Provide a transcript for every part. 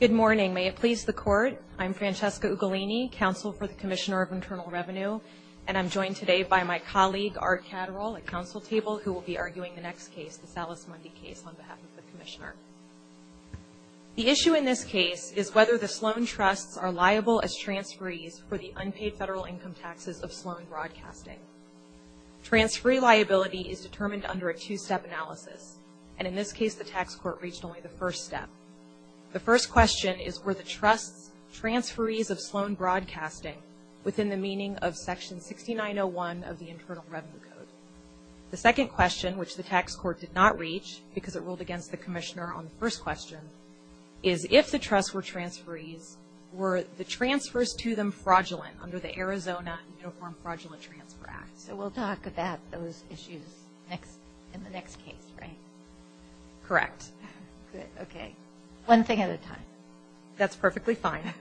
Good morning. May it please the Court, I'm Francesca Ugolini, counsel for the Commissioner of Internal Revenue, and I'm joined today by my colleague Art Catterall at counsel table who will be arguing the next case, the Salus Mundi case, on behalf of the Commissioner. The issue in this case is whether the Sloan Trusts are liable as transferees for the unpaid federal income taxes of Sloan Broadcasting. Transferee liability is determined under a tax court reached only the first step. The first question is were the Trusts transferees of Sloan Broadcasting within the meaning of section 6901 of the Internal Revenue Code? The second question, which the tax court did not reach because it ruled against the Commissioner on the first question, is if the Trusts were transferees, were the transfers to them fraudulent under the Arizona Uniform Fraudulent Transfer Act? So we'll talk about those issues in the next case, right? Correct. Good. Okay. One thing at a time. That's perfectly fine.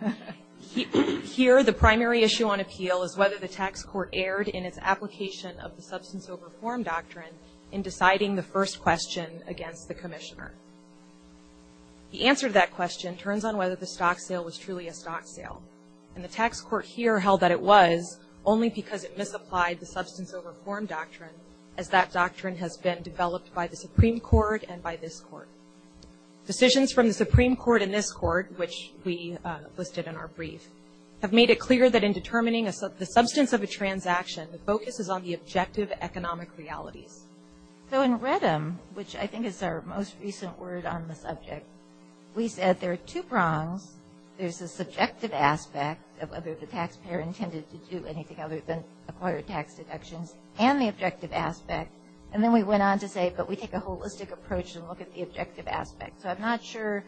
Here, the primary issue on appeal is whether the tax court erred in its application of the substance over form doctrine in deciding the first question against the Commissioner. The answer to that question turns on whether the stock sale was truly a stock sale. And the tax court here held that it was only because it misapplied the substance over form doctrine as that doctrine has been developed by the Supreme Court and by this Court. Decisions from the Supreme Court and this Court, which we listed in our brief, have made it clear that in determining the substance of a transaction, the focus is on the objective economic realities. So in Redham, which I think is our most recent word on the subject, we said there are two prongs. There's a subjective aspect of whether the taxpayer intended to do anything other than acquire tax deductions and the objective aspect. And then we went on to say, but we take a holistic approach and look at the objective aspect. So I'm not sure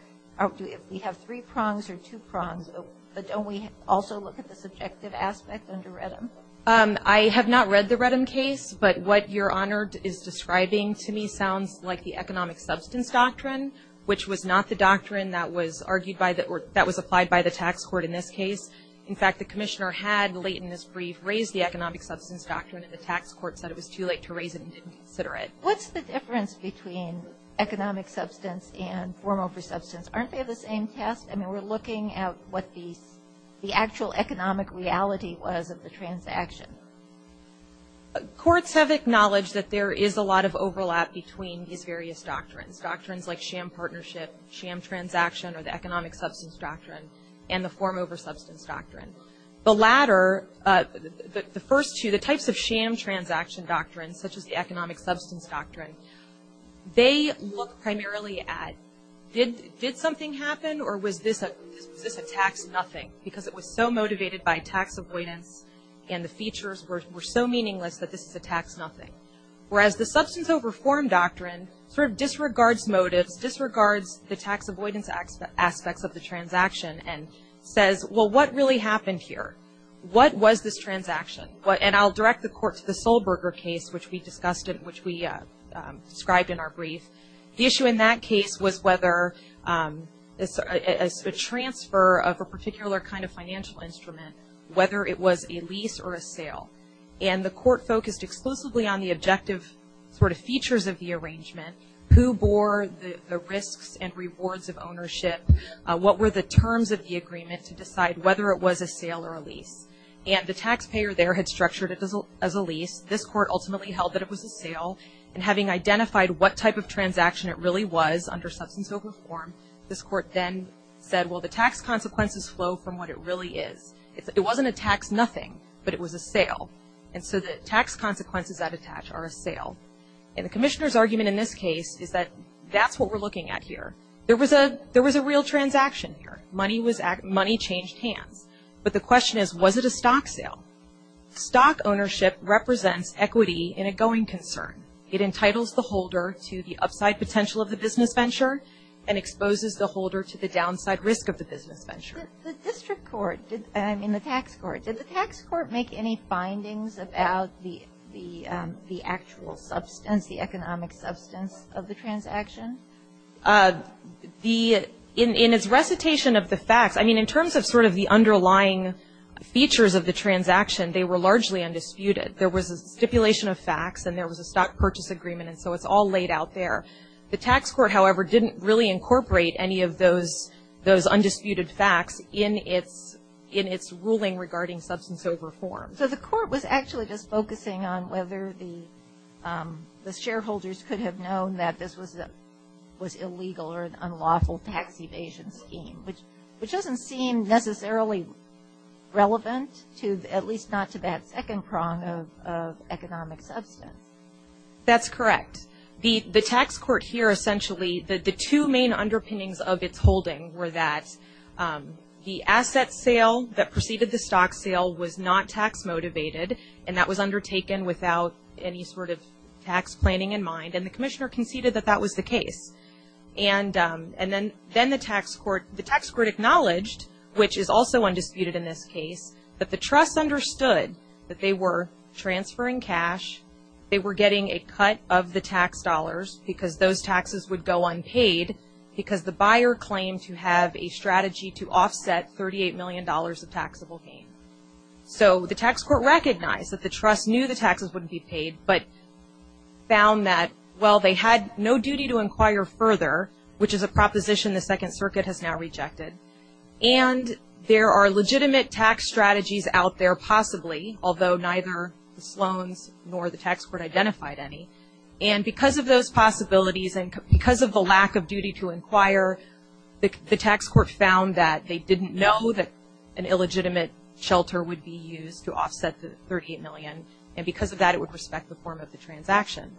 if we have three prongs or two prongs, but don't we also look at the subjective aspect under Redham? I have not read the Redham case, but what Your Honor is describing to me sounds like the economic substance doctrine, which was not the doctrine that was argued by the or that was applied by the tax court in this case. In fact, the commissioner had late in this brief raised the economic substance doctrine and the tax court said it was too late to raise it and didn't consider it. What's the difference between economic substance and form over substance? Aren't they the same test? I mean, we're looking at what the actual economic reality was of the transaction. Courts have acknowledged that there is a lot of overlap between these various doctrines. Doctrines like sham partnership, sham transaction, or the economic substance doctrine, and the form over substance doctrine. The latter, the first two, the types of sham transaction doctrine, such as the economic substance doctrine, they look primarily at did something happen or was this a tax nothing? Because it was so motivated by tax avoidance and the features were so meaningless that this is a tax nothing. Whereas the substance over form doctrine sort of disregards motives, disregards the tax avoidance aspects of the transaction and says, well, what really happened here? What was this transaction? And I'll direct the court to the Solberger case, which we described in our brief. The issue in that case was whether a transfer of a particular kind of financial instrument, whether it was a lease or a sale. And the court focused exclusively on the objective sort of features of the arrangement. Who bore the risks and rewards of ownership? What were the terms of the agreement to decide whether it was a sale or a lease? And the taxpayer there had structured it as a lease. This court ultimately held that it was a sale. And having identified what type of transaction it really was under substance over form, this court then said, well, the tax consequences flow from what it really is. It wasn't a tax nothing, but it was a sale. And so the tax consequences that attach are a sale. And the commissioner's argument in this case is that that's what we're looking at here. There was a real transaction here. Money changed hands. But the question is, was it a stock sale? Stock ownership represents equity in a going concern. It entitles the holder to the upside potential of the business venture and exposes the holder to the downside risk of the business venture. The district court, I mean the tax court, did the tax court make any findings about the actual substance, the economic substance of the transaction? In its recitation of the facts, I mean in terms of sort of the underlying features of the transaction, they were largely undisputed. There was a stipulation of facts, and there was a stock purchase agreement, and so it's all laid out there. The tax court, however, didn't really incorporate any of those undisputed facts in its ruling regarding substance over form. So the court was actually just focusing on whether the shareholders could have known that this was illegal or an unlawful tax evasion scheme, which doesn't seem necessarily relevant to at least not to that second prong of economic substance. That's correct. The tax court here essentially, the two main underpinnings of its holding were that the asset sale that preceded the stock sale was not tax motivated, and that was undertaken without any sort of tax planning in mind, and the commissioner conceded that that was the case. And then the tax court acknowledged, which is also undisputed in this case, that the trust understood that they were transferring cash, they were getting a cut of the tax dollars because those taxes would go unpaid because the buyer claimed to have a strategy to offset $38 million of taxable gain. So the tax court recognized that the trust knew the taxes wouldn't be paid, but found that, well, they had no duty to inquire further, which is a proposition the Second Circuit has now rejected, and there are legitimate tax strategies out there possibly, although neither the Sloans nor the tax court identified any, and because of those possibilities and because of the lack of duty to inquire, the tax court found that they didn't know that an illegitimate shelter would be used to offset the $38 million, and because of that, it would respect the form of the transaction.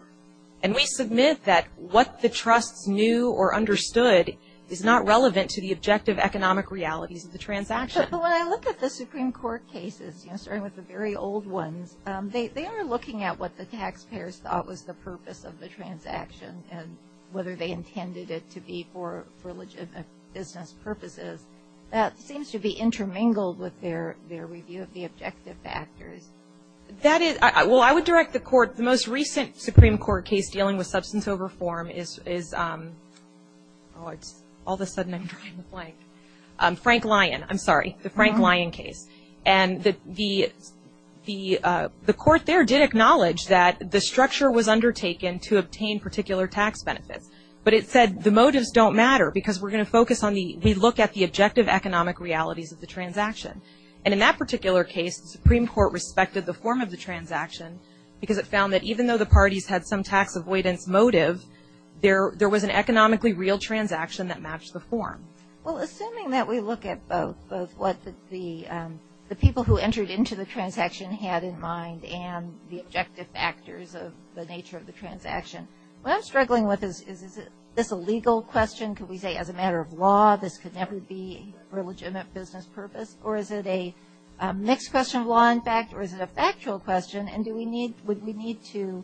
And we submit that what the trusts knew or understood is not relevant to the objective economic realities of the transaction. But when I look at the Supreme Court cases, starting with the very old ones, they are looking at what the taxpayers thought was the purpose of the transaction and whether they intended it to be for legitimate business purposes. That seems to be intermingled with their review of the objective factors. That is, well, I would direct the Court, the most recent Supreme Court case dealing with the Frank Lyon case, and the Court there did acknowledge that the structure was undertaken to obtain particular tax benefits, but it said the motives don't matter because we're going to focus on the, we look at the objective economic realities of the transaction. And in that particular case, the Supreme Court respected the form of the transaction because it found that even though the parties had some tax avoidance motive, there was an economically real transaction that matched the form. Well, assuming that we look at both, both what the people who entered into the transaction had in mind and the objective factors of the nature of the transaction, what I'm struggling with is, is this a legal question? Could we say as a matter of law, this could never be for legitimate business purpose? Or is it a mixed question of law and fact? Or is it a factual question? And do we need, would we need to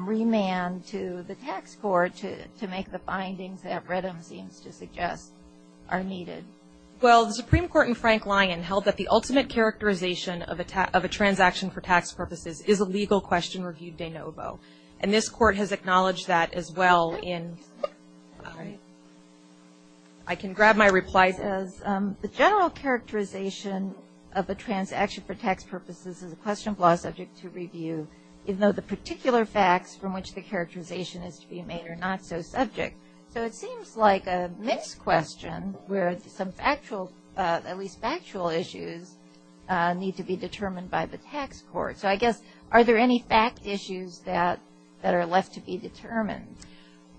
remand to the tax court to make sure that the findings that Redham seems to suggest are needed? Well, the Supreme Court in Frank Lyon held that the ultimate characterization of a tax, of a transaction for tax purposes is a legal question reviewed de novo. And this Court has acknowledged that as well in, I can grab my replies as, the general characterization of a transaction for tax purposes is a question of law subject to review, even though the facts are unambiguous. So it seems like a mixed question where some factual, at least factual issues need to be determined by the tax court. So I guess, are there any fact issues that, that are left to be determined?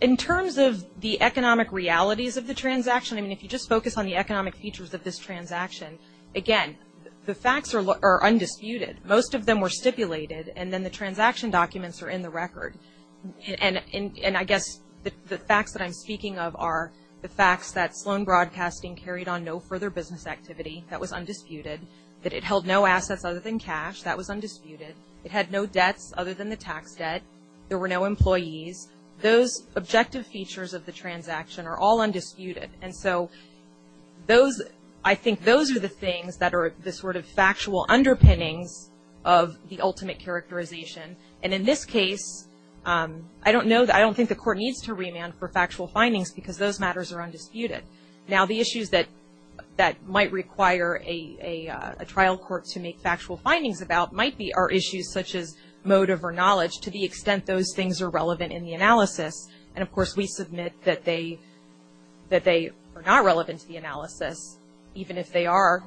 In terms of the economic realities of the transaction, I mean, if you just focus on the economic features of this transaction, again, the facts are, are undisputed. Most of them were stipulated and then the transaction documents are in the record. And, and, and I guess the, the facts that I'm speaking of are the facts that Sloan Broadcasting carried on no further business activity. That was undisputed. That it held no assets other than cash. That was undisputed. It had no debts other than the tax debt. There were no employees. Those objective features of the transaction are all undisputed. And so those, I think those are the things that are the sort of factual underpinnings of the ultimate characterization. And in this case, I don't know, I don't think the court needs to remand for factual findings because those matters are undisputed. Now the issues that, that might require a, a trial court to make factual findings about might be, are issues such as motive or knowledge to the extent those things are relevant in the analysis. And of course, we submit that they, that they are not relevant to the analysis. Even if they are,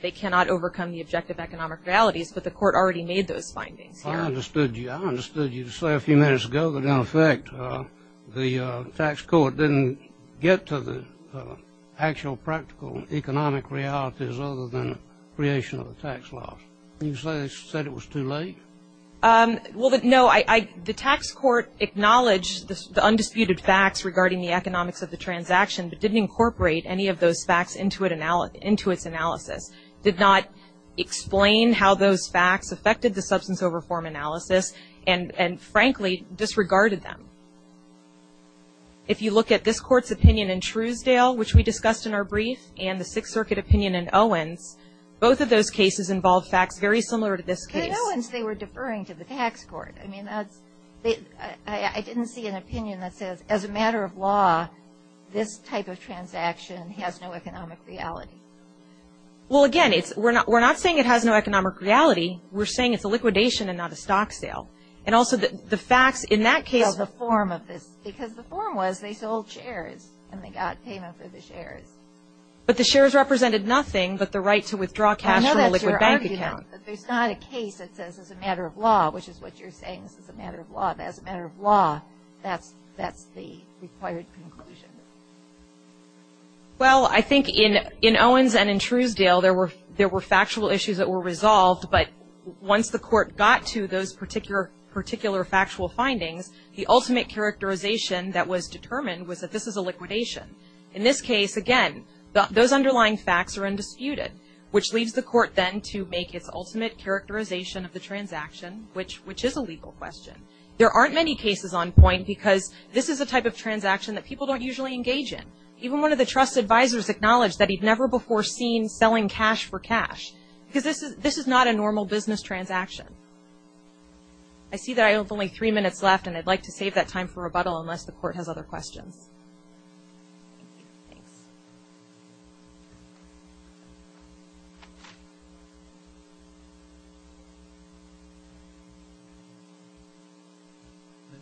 they cannot overcome the objective economic realities. But the court already made those findings here. I understood you. I understood you to say a few minutes ago that in effect the tax court didn't get to the actual practical economic realities other than creation of the tax laws. You say, said it was too late? Well, no, I, I, the tax court acknowledged the undisputed facts regarding the economics of the transaction, but didn't incorporate any of those facts into it, into its analysis. Did not explain how those facts affected the substance over form analysis and, and frankly disregarded them. If you look at this court's opinion in Truesdale, which we discussed in our brief, and the Sixth Circuit opinion in Owens, both of those cases involved facts very similar to this case. In Owens, they were deferring to the tax court. I mean, that's, they, I, I didn't see an opinion that says as a matter of law, this type of transaction has no economic reality. Well, again, it's, we're not, we're not saying it has no economic reality. We're saying it's a liquidation and not a stock sale. And also the, the facts in that case Well, the form of this, because the form was they sold shares and they got payment for the shares. But the shares represented nothing but the right to withdraw cash from a liquid bank account. I know that's your argument, but there's not a case that says it's a matter of law, which is what you're saying, this is a matter of law, that's a matter of law. That's, that's the required conclusion. Well, I think in, in Owens and in Truesdale, there were, there were factual issues that were resolved, but once the court got to those particular, particular factual findings, the ultimate characterization that was determined was that this is a liquidation. In this case, again, those underlying facts are undisputed, which leaves the court then to make its ultimate characterization of the transaction, which, which is a legal question. There aren't many cases on point because this is a type of transaction that people don't usually engage in. Even one of the trust advisors acknowledged that he'd never before seen selling cash for cash, because this is, this is not a normal business transaction. I see that I have only three minutes left, and I'd like to save that time for rebuttal unless the court has other questions.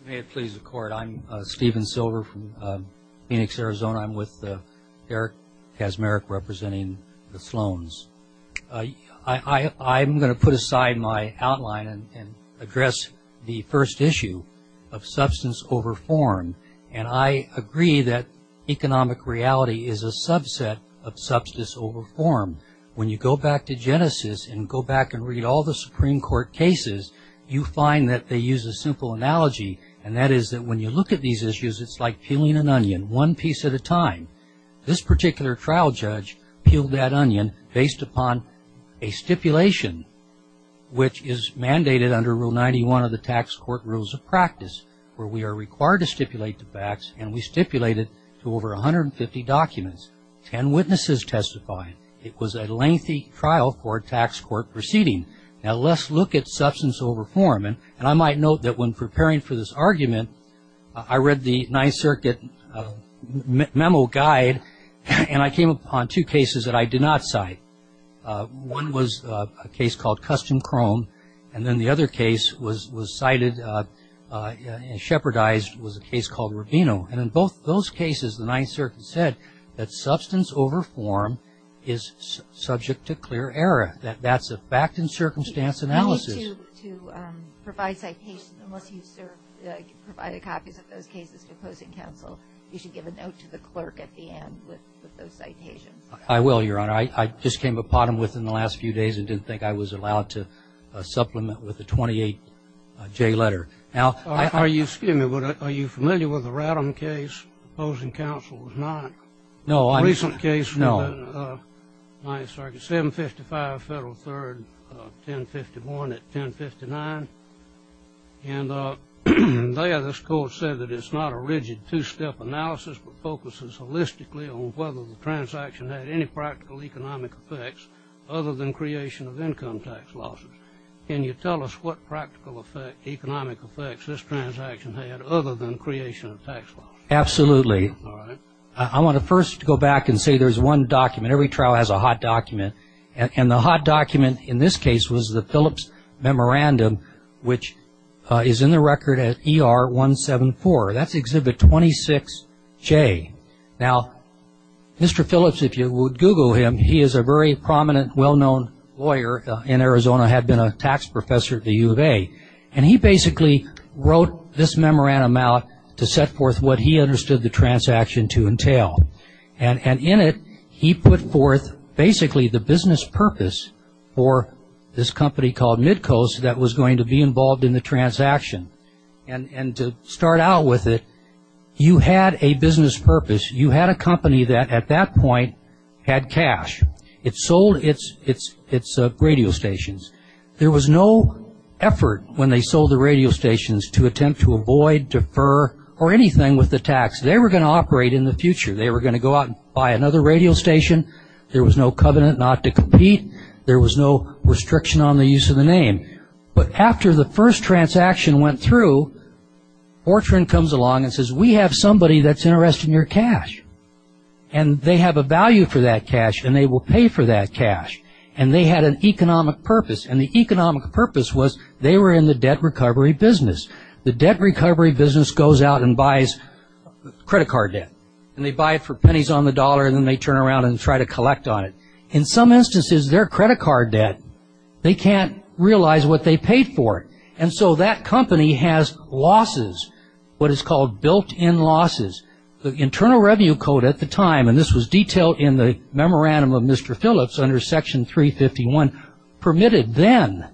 May it please the court, I'm Steven Silver from Phoenix, Arizona. I'm with Eric Kaczmarek representing the Sloan's. I, I, I'm going to put aside my outline and, and address the first issue of substance over form, and I agree that economic reality is a subset of substance over form. When you go back to Genesis and go back and read all the Supreme Court cases, you find that they use a simple analogy, and that is that when you look at these issues, it's like peeling an onion, one piece at a time. This particular trial judge peeled that onion based upon a stipulation, which is mandated under Rule 91 of the Tax Court Rules of Practice, where we are required to stipulate the facts, and we stipulated to over 150 documents. Ten witnesses testified. It was a lengthy trial for a tax court proceeding. Now let's look at substance over form, and I might note that when preparing for this argument, I read the Ninth Circuit memo guide, and I came upon two cases that I did not cite. One was a case called Custom Chrome, and then the other case was, was cited, and shepherdized, was a case called Rubino, and in both those cases, the Ninth Circuit said that substance over form is subject to clear error, that that's a fact and circumstance analysis. I need to, to provide citations, unless you serve, provided copies of those cases to opposing counsel, you should give a note to the clerk at the end with, with those citations. I will, Your Honor. I, I just came upon them within the last few days and didn't think I was allowed to supplement with a 28-J letter. Now, I, I. Are you, excuse me, but are you familiar with the Radom case? Opposing counsel was not. No, I'm. A recent case. No. In the Ninth Circuit, 755 Federal 3rd, 1051 at 1059, and there this court said that it's not a rigid two-step analysis, but focuses holistically on whether the transaction had any practical economic effects other than creation of income tax losses. Can you tell us what practical effect, economic effects this transaction had other than creation of tax losses? Absolutely. All right. I want to first go back and say there's one document, every trial has a hot document, and the hot document in this case was the Phillips Memorandum, which is in the record at ER 174. That's Exhibit 26J. Now, Mr. Phillips, if you would Google him, he is a very prominent, well-known lawyer in Arizona, had been a tax professor at the U of A, and he basically wrote this memorandum out to set forth what he understood the transaction to entail, and, and in it, he put forth basically the business purpose for this company called Midcoast that was going to be involved in the transaction, and, and to start out with it, you had a business purpose. You had a company that at that point had cash. It sold its, its, its radio stations. There was no effort when they sold the radio stations to attempt to avoid, defer, or anything with the tax. They were going to operate in the future. They were going to go out and buy another radio station. There was no covenant not to compete. There was no restriction on the use of the name. But after the first transaction went through, Fortran comes along and says, we have somebody that's interested in your cash, and they have a value for that cash, and they will pay for that cash, and they had an economic purpose, and the economic purpose was they were in the debt recovery business. The debt recovery business goes out and buys credit card debt, and they buy it for pennies on the dollar, and then they turn around and try to collect on it. In some instances, their credit card debt, they can't realize what they paid for it, and so that company has losses, what is called built-in losses. The Internal Revenue Code at the time, and this was detailed in the Memorandum of Mr. Phillips under Section 351, permitted then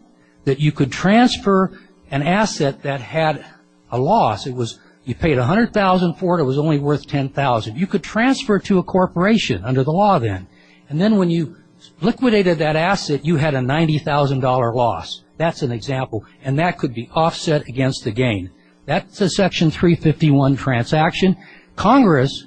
that you could transfer an asset that had a loss. It was, you paid $100,000 for it, it was only worth $10,000. You could transfer it to a corporation under the law then, and then when you liquidated that asset, you had a $90,000 loss. That's an example, and that could be offset against the gain. That's a Section 351 transaction. Congress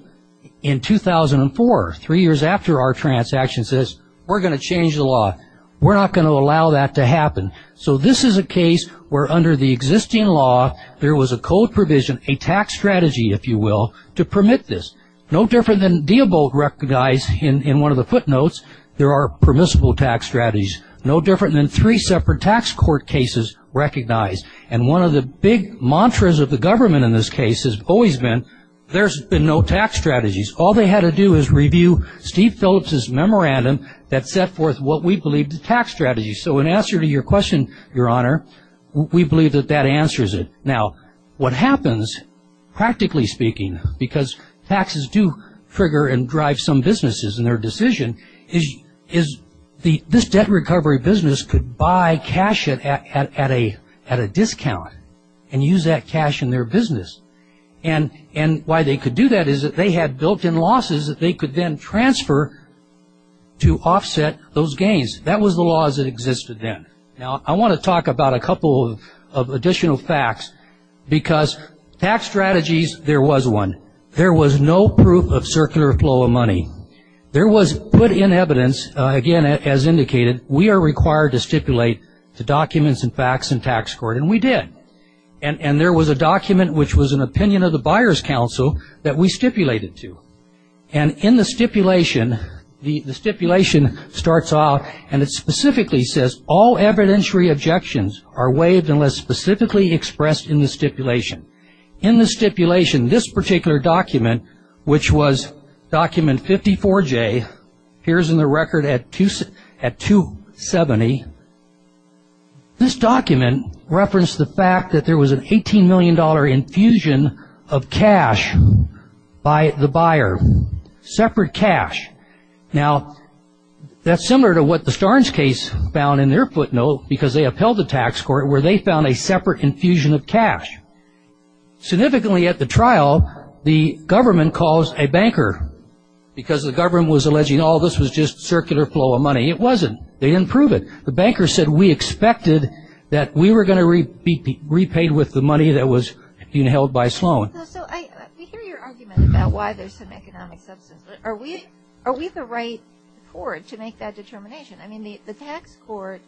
in 2004, three years after our transaction says, we're going to change the law. We're not going to allow that to happen. So this is a case where under the existing law, there was a code provision, a tax strategy if you will, to permit this. No different than Diebold recognized in one of the footnotes, there are permissible tax strategies. No different than three separate tax court cases recognized, and one of the big mantras of the government in this case has always been, there's been no tax strategies. All they had to do is review Steve Phillips' Memorandum that set forth what we believe the tax strategy. So in answer to your question, Your Honor, we believe that that answers it. Now, what happens, practically speaking, because taxes do trigger and drive some businesses in their decision, is this debt recovery business could buy cash at a discount and use that cash in their business, and why they could do that is that they had built-in losses that they could then transfer to offset those gains. That was the laws that existed then. Now, I want to talk about a couple of additional facts because tax strategies, there was one. There was no proof of circular flow of money. There was put in evidence, again, as indicated, we are required to stipulate the documents and facts in tax court, and we did. And there was a document which was an opinion of the Buyer's Council that we stipulated to. And in the stipulation, the stipulation starts off and it specifically says, all evidentiary objections are waived unless specifically expressed in the stipulation. In the stipulation, this particular document, which was document 54J, appears in the record at 270, this document referenced the fact that there was an $18 million infusion of air, separate cash. Now, that's similar to what the Starnes case found in their footnote because they upheld the tax court where they found a separate infusion of cash. Significantly at the trial, the government calls a banker because the government was alleging all this was just circular flow of money. It wasn't. They didn't prove it. The banker said we expected that we were going to be repaid with the money that was being held by Sloan. So I hear your argument about why there's some economic substance. Are we the right court to make that determination? I mean, the tax court,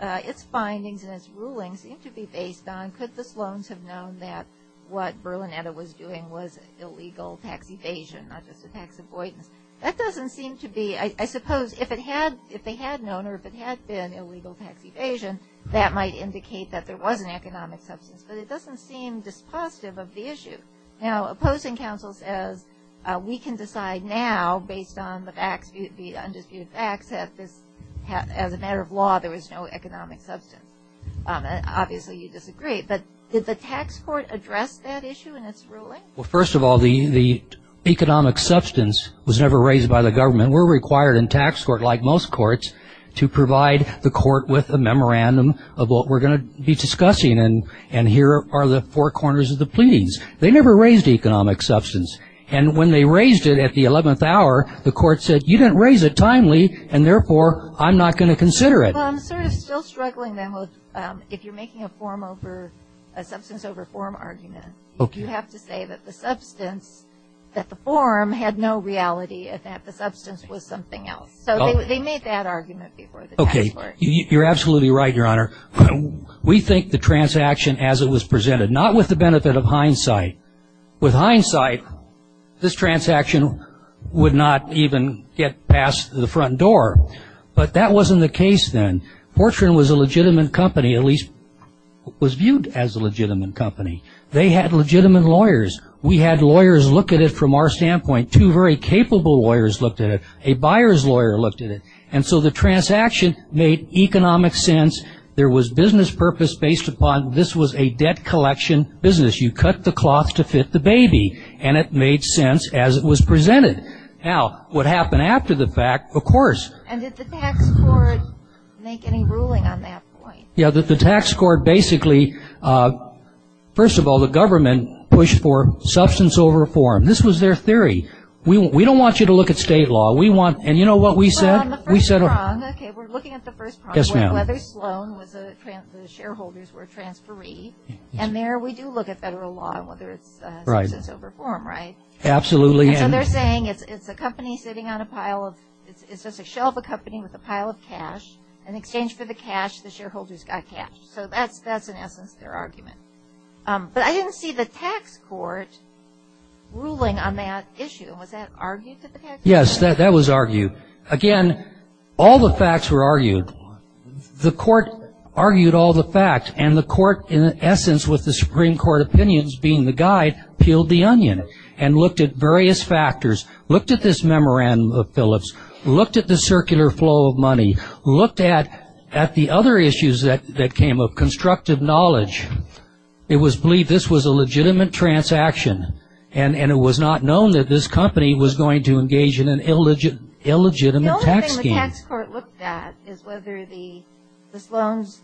its findings and its rulings seem to be based on could the Sloans have known that what Berlinetta was doing was illegal tax evasion, not just a tax avoidance. That doesn't seem to be, I suppose if they had known or if it had been illegal tax evasion, that might indicate that there was an economic substance, but it doesn't seem dispositive of the issue. Now, opposing counsel says we can decide now based on the facts, the undisputed facts that this, as a matter of law, there was no economic substance. Obviously, you disagree, but did the tax court address that issue in its ruling? Well, first of all, the economic substance was never raised by the government. We're required in tax court, like most courts, to provide the court with a memorandum of what we're going to be discussing, and here are the four corners of the pleadings. They never raised economic substance. And when they raised it at the 11th hour, the court said, you didn't raise it timely, and therefore, I'm not going to consider it. Well, I'm sort of still struggling, then, with if you're making a form over, a substance over form argument, you have to say that the substance, that the form had no reality and that the substance was something else. So they made that argument before the tax court. You're absolutely right, Your Honor. We think the transaction as it was presented, not with the benefit of hindsight. With hindsight, this transaction would not even get past the front door. But that wasn't the case, then. Fortran was a legitimate company, at least was viewed as a legitimate company. They had legitimate lawyers. We had lawyers look at it from our standpoint. Two very capable lawyers looked at it. A buyer's lawyer looked at it. And so the transaction made economic sense. There was business purpose based upon this was a debt collection business. You cut the cloth to fit the baby. And it made sense as it was presented. Now, what happened after the fact, of course. And did the tax court make any ruling on that point? Yeah, the tax court basically, first of all, the government pushed for substance over form. This was their theory. We don't want you to look at state law. We want, and you know what we said? On the first prong, okay, we're looking at the first prong. Yes, ma'am. Whether Sloan was a, the shareholders were transferee. And there we do look at federal law and whether it's substance over form, right? Absolutely. And so they're saying it's a company sitting on a pile of, it's just a shelf of company with a pile of cash. In exchange for the cash, the shareholders got cash. So that's in essence their argument. But I didn't see the tax court ruling on that issue. Was that argued to the tax court? Yes, that was argued. Again, all the facts were argued. The court argued all the facts. And the court, in essence, with the Supreme Court opinions being the guide, peeled the onion. And looked at various factors. Looked at this memorandum of Phillips. Looked at the circular flow of money. Looked at the other issues that came of constructive knowledge. It was believed this was a legitimate transaction. And it was not known that this company was going to engage in an illegitimate tax scheme. The only thing the tax court looked at is whether the Sloan's,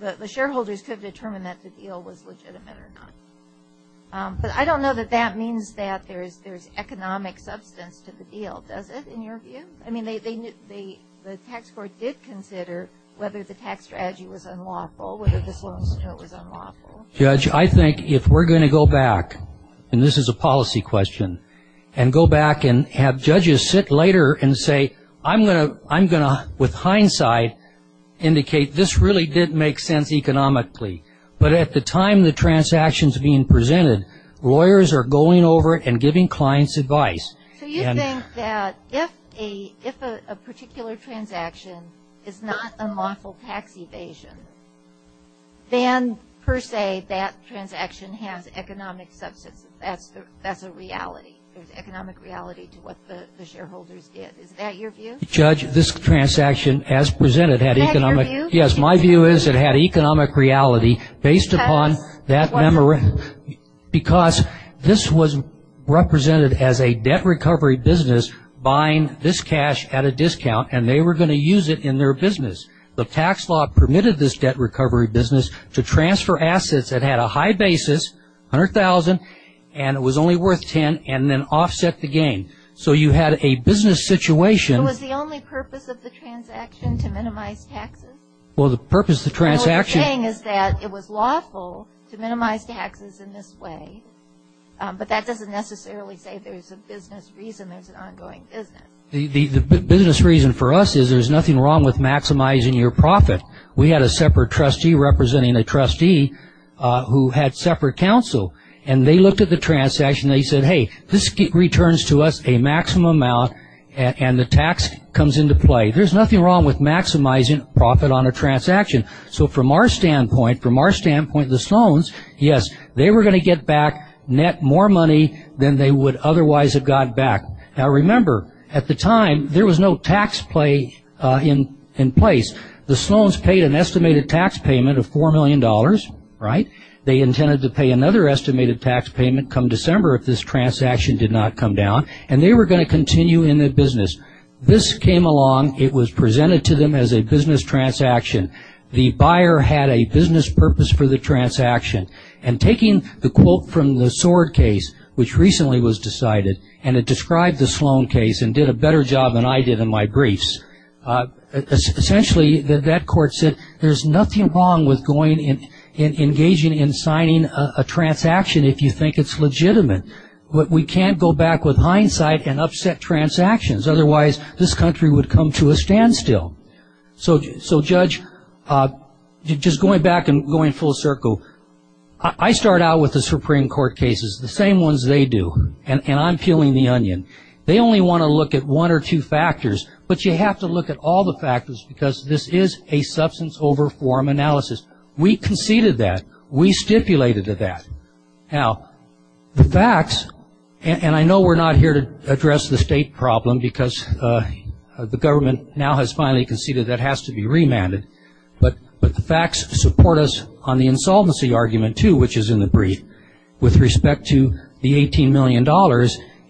the shareholders could determine that the deal was legitimate or not. But I don't know that that means that there's economic substance to the deal. Does it, in your view? I mean, they, the tax court did consider whether the tax strategy was unlawful. Whether the Sloan's deal was unlawful. Judge, I think if we're going to go back, and this is a policy question, and go back and have judges sit later and say, I'm going to, I'm going to, with hindsight, indicate this really did make sense economically. But at the time the transaction's being presented, lawyers are going over it and giving clients advice. So you think that if a, if a particular transaction is not a lawful tax evasion, then per se, that transaction has economic substance. That's the, that's a reality. There's economic reality to what the, the shareholders did. Is that your view? Judge, this transaction, as presented, had economic- Is that your view? Yes, my view is it had economic reality based upon that memorandum. Because this was represented as a debt recovery business buying this cash at a discount, and they were going to use it in their business. The tax law permitted this debt recovery business to transfer assets that had a high basis, $100,000, and it was only worth $10,000, and then offset the gain. So you had a business situation- So was the only purpose of the transaction to minimize taxes? Well, the purpose of the transaction- And what you're saying is that it was lawful to minimize taxes in this way. But that doesn't necessarily say there's a business reason there's an ongoing business. The, the, the business reason for us is there's nothing wrong with maximizing your profit. We had a separate trustee representing a trustee who had separate counsel. And they looked at the transaction and they said, hey, this returns to us a maximum amount and, and the tax comes into play. There's nothing wrong with maximizing profit on a transaction. So from our standpoint, from our standpoint, the Sloans, yes, they were going to get back net more money than they would otherwise have got back. Now remember, at the time, there was no tax play in, in place. The Sloans paid an estimated tax payment of $4 million, right? They intended to pay another estimated tax payment come December if this transaction did not come down, and they were going to continue in the business. This came along, it was presented to them as a business transaction. The buyer had a business purpose for the transaction. And taking the quote from the Sword case, which recently was decided, and it described the Sloan case and did a better job than I did in my briefs. Essentially, that court said, there's nothing wrong with going and, and engaging in signing a transaction if you think it's legitimate. But we can't go back with hindsight and upset transactions. Otherwise, this country would come to a standstill. So, so Judge, just going back and going full circle. I, I start out with the Supreme Court cases, the same ones they do. And, and I'm peeling the onion. They only want to look at one or two factors, but you have to look at all the factors because this is a substance over form analysis. We conceded that. We stipulated that. Now, the facts, and, and I know we're not here to address the state problem, because the government now has finally conceded that has to be remanded. But, but the facts support us on the insolvency argument too, which is in the brief, with respect to the $18 million.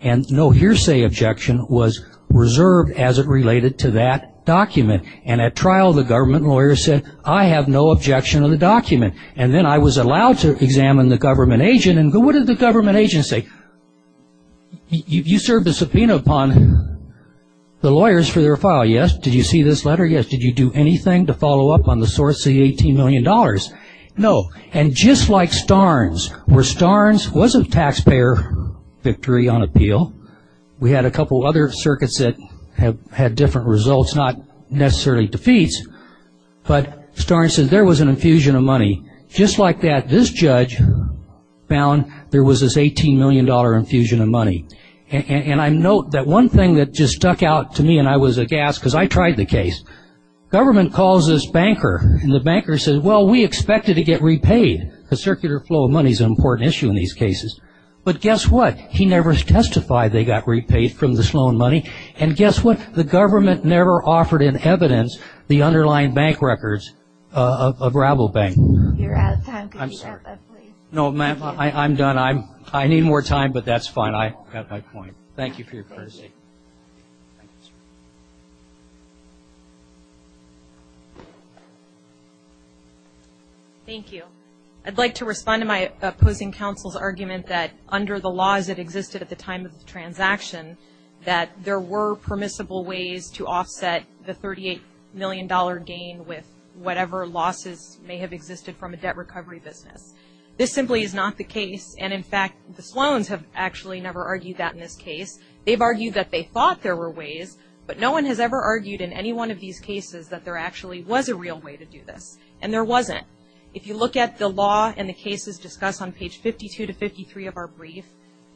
And no hearsay objection was reserved as it related to that document. And at trial, the government lawyer said, I have no objection of the document. And then I was allowed to examine the government agent and go, what did the government agent say? You, you served a subpoena upon the lawyers for their file, yes? Did you see this letter? Yes. Did you do anything to follow up on the source of the $18 million? No. And just like Starnes, where Starnes wasn't taxpayer victory on appeal. We had a couple other circuits that have had different results, not necessarily defeats, but Starnes said there was an infusion of money. Just like that, this judge found there was this $18 million infusion of money. And, and, and I note that one thing that just stuck out to me, and I was aghast, because I tried the case. Government calls this banker, and the banker said, well, we expected to get repaid. The circular flow of money is an important issue in these cases. But guess what? He never testified they got repaid from the Sloan money. And guess what? The government never offered in evidence the underlying bank records of Rabble Bank. You're out of time, could you stop that, please? No, ma'am, I, I'm done. I'm, I need more time, but that's fine. I got my point. Thank you for your courtesy. Thank you. I'd like to respond to my opposing counsel's argument that, under the laws that existed at the time of the transaction, that there were permissible ways to offset the $38 million gain with whatever losses may have existed from a debt recovery business. This simply is not the case, and in fact, the Sloans have actually never argued that in this case. They've argued that they thought there were ways, but no one has ever argued in any one of these cases that there actually was a real way to do this, and there wasn't. If you look at the law and the cases discussed on page 52 to 53 of our brief,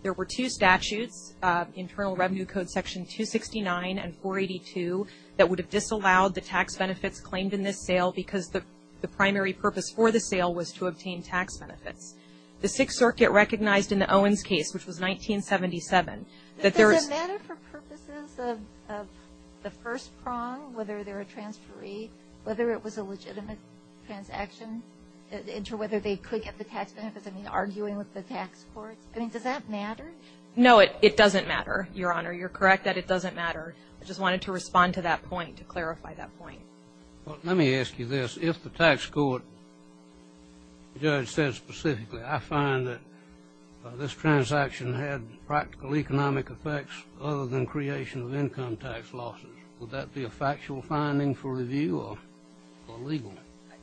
there were two statutes, Internal Revenue Code section 269 and 482, that would have disallowed the tax benefits claimed in this sale, because the, the primary purpose for the sale was to obtain tax benefits. The Sixth Circuit recognized in the Owens case, which was 1977, that there was. Does it matter for purposes of, of the first prong, whether they're a transferee, whether it was a legitimate transaction, and to whether they could get the tax benefits, I mean, arguing with the tax court? I mean, does that matter? No, it, it doesn't matter, Your Honor. You're correct that it doesn't matter. I just wanted to respond to that point, to clarify that point. Well, let me ask you this. If the tax court judge said specifically, I find that this transaction had practical economic effects, other than creation of income tax losses, would that be a factual finding for review or, or legal?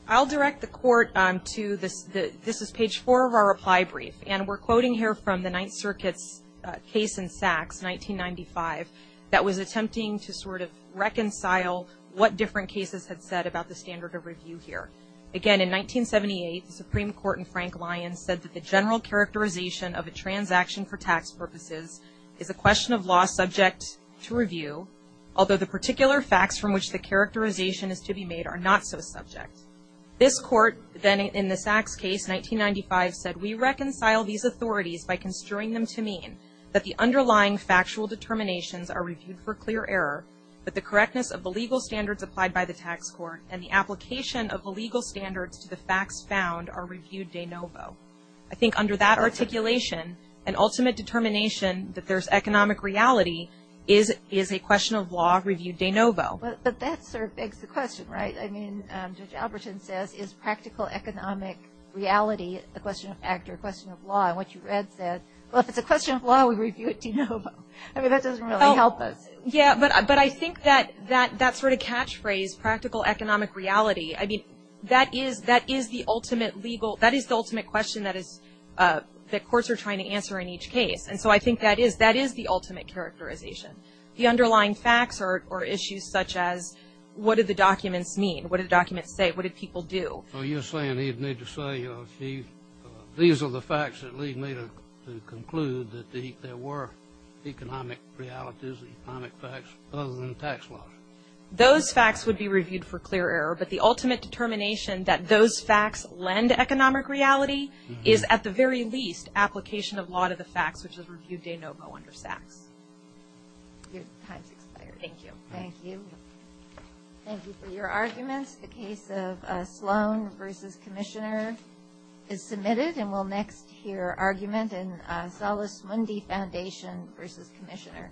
I'll direct the court to this, the, this is page four of our reply brief, and we're quoting here from the Ninth Circuit's case in Sachs, 1995, that was attempting to sort of reconcile what different cases had said about the standard of review here. Again, in 1978, the Supreme Court in Frank Lyons said that the general characterization of a transaction for tax purposes is a question of law subject to review, although the particular facts from which the characterization is to be made are not so subject. This court, then in the Sachs case, 1995, said we reconcile these authorities by construing them to mean that the underlying factual determinations are reviewed for clear error, but the correctness of the legal standards applied by the tax court and the application of the legal standards to the facts found are reviewed de novo. I think under that articulation, an ultimate determination that there's economic reality is, is a question of law reviewed de novo. But, but that sort of begs the question, right? I mean, Judge Alberton says, is practical economic reality a question of fact or a question of law, and what you read said, well, if it's a question of law, we review it de novo. I mean, that doesn't really help us. Yeah, but, but I think that, that, that sort of catchphrase, practical economic reality, I mean, that is, that is the ultimate legal, that is the ultimate question that is, that courts are trying to answer in each case. And so I think that is, that is the ultimate characterization. The underlying facts are, are issues such as, what did the documents mean? What did the documents say? What did people do? So you're saying he'd need to say, these are the facts that lead me to, to conclude that the, there were economic realities, economic facts, other than tax law. Those facts would be reviewed for clear error, but the ultimate determination that those facts lend economic reality is, at the very least, application of law to the facts, which is reviewed de novo under SACS. Your time's expired. Thank you. Thank you. Thank you for your arguments. The case of Sloan versus Commissioner is submitted, and we'll next hear argument in Salas Mundi Foundation versus Commissioner.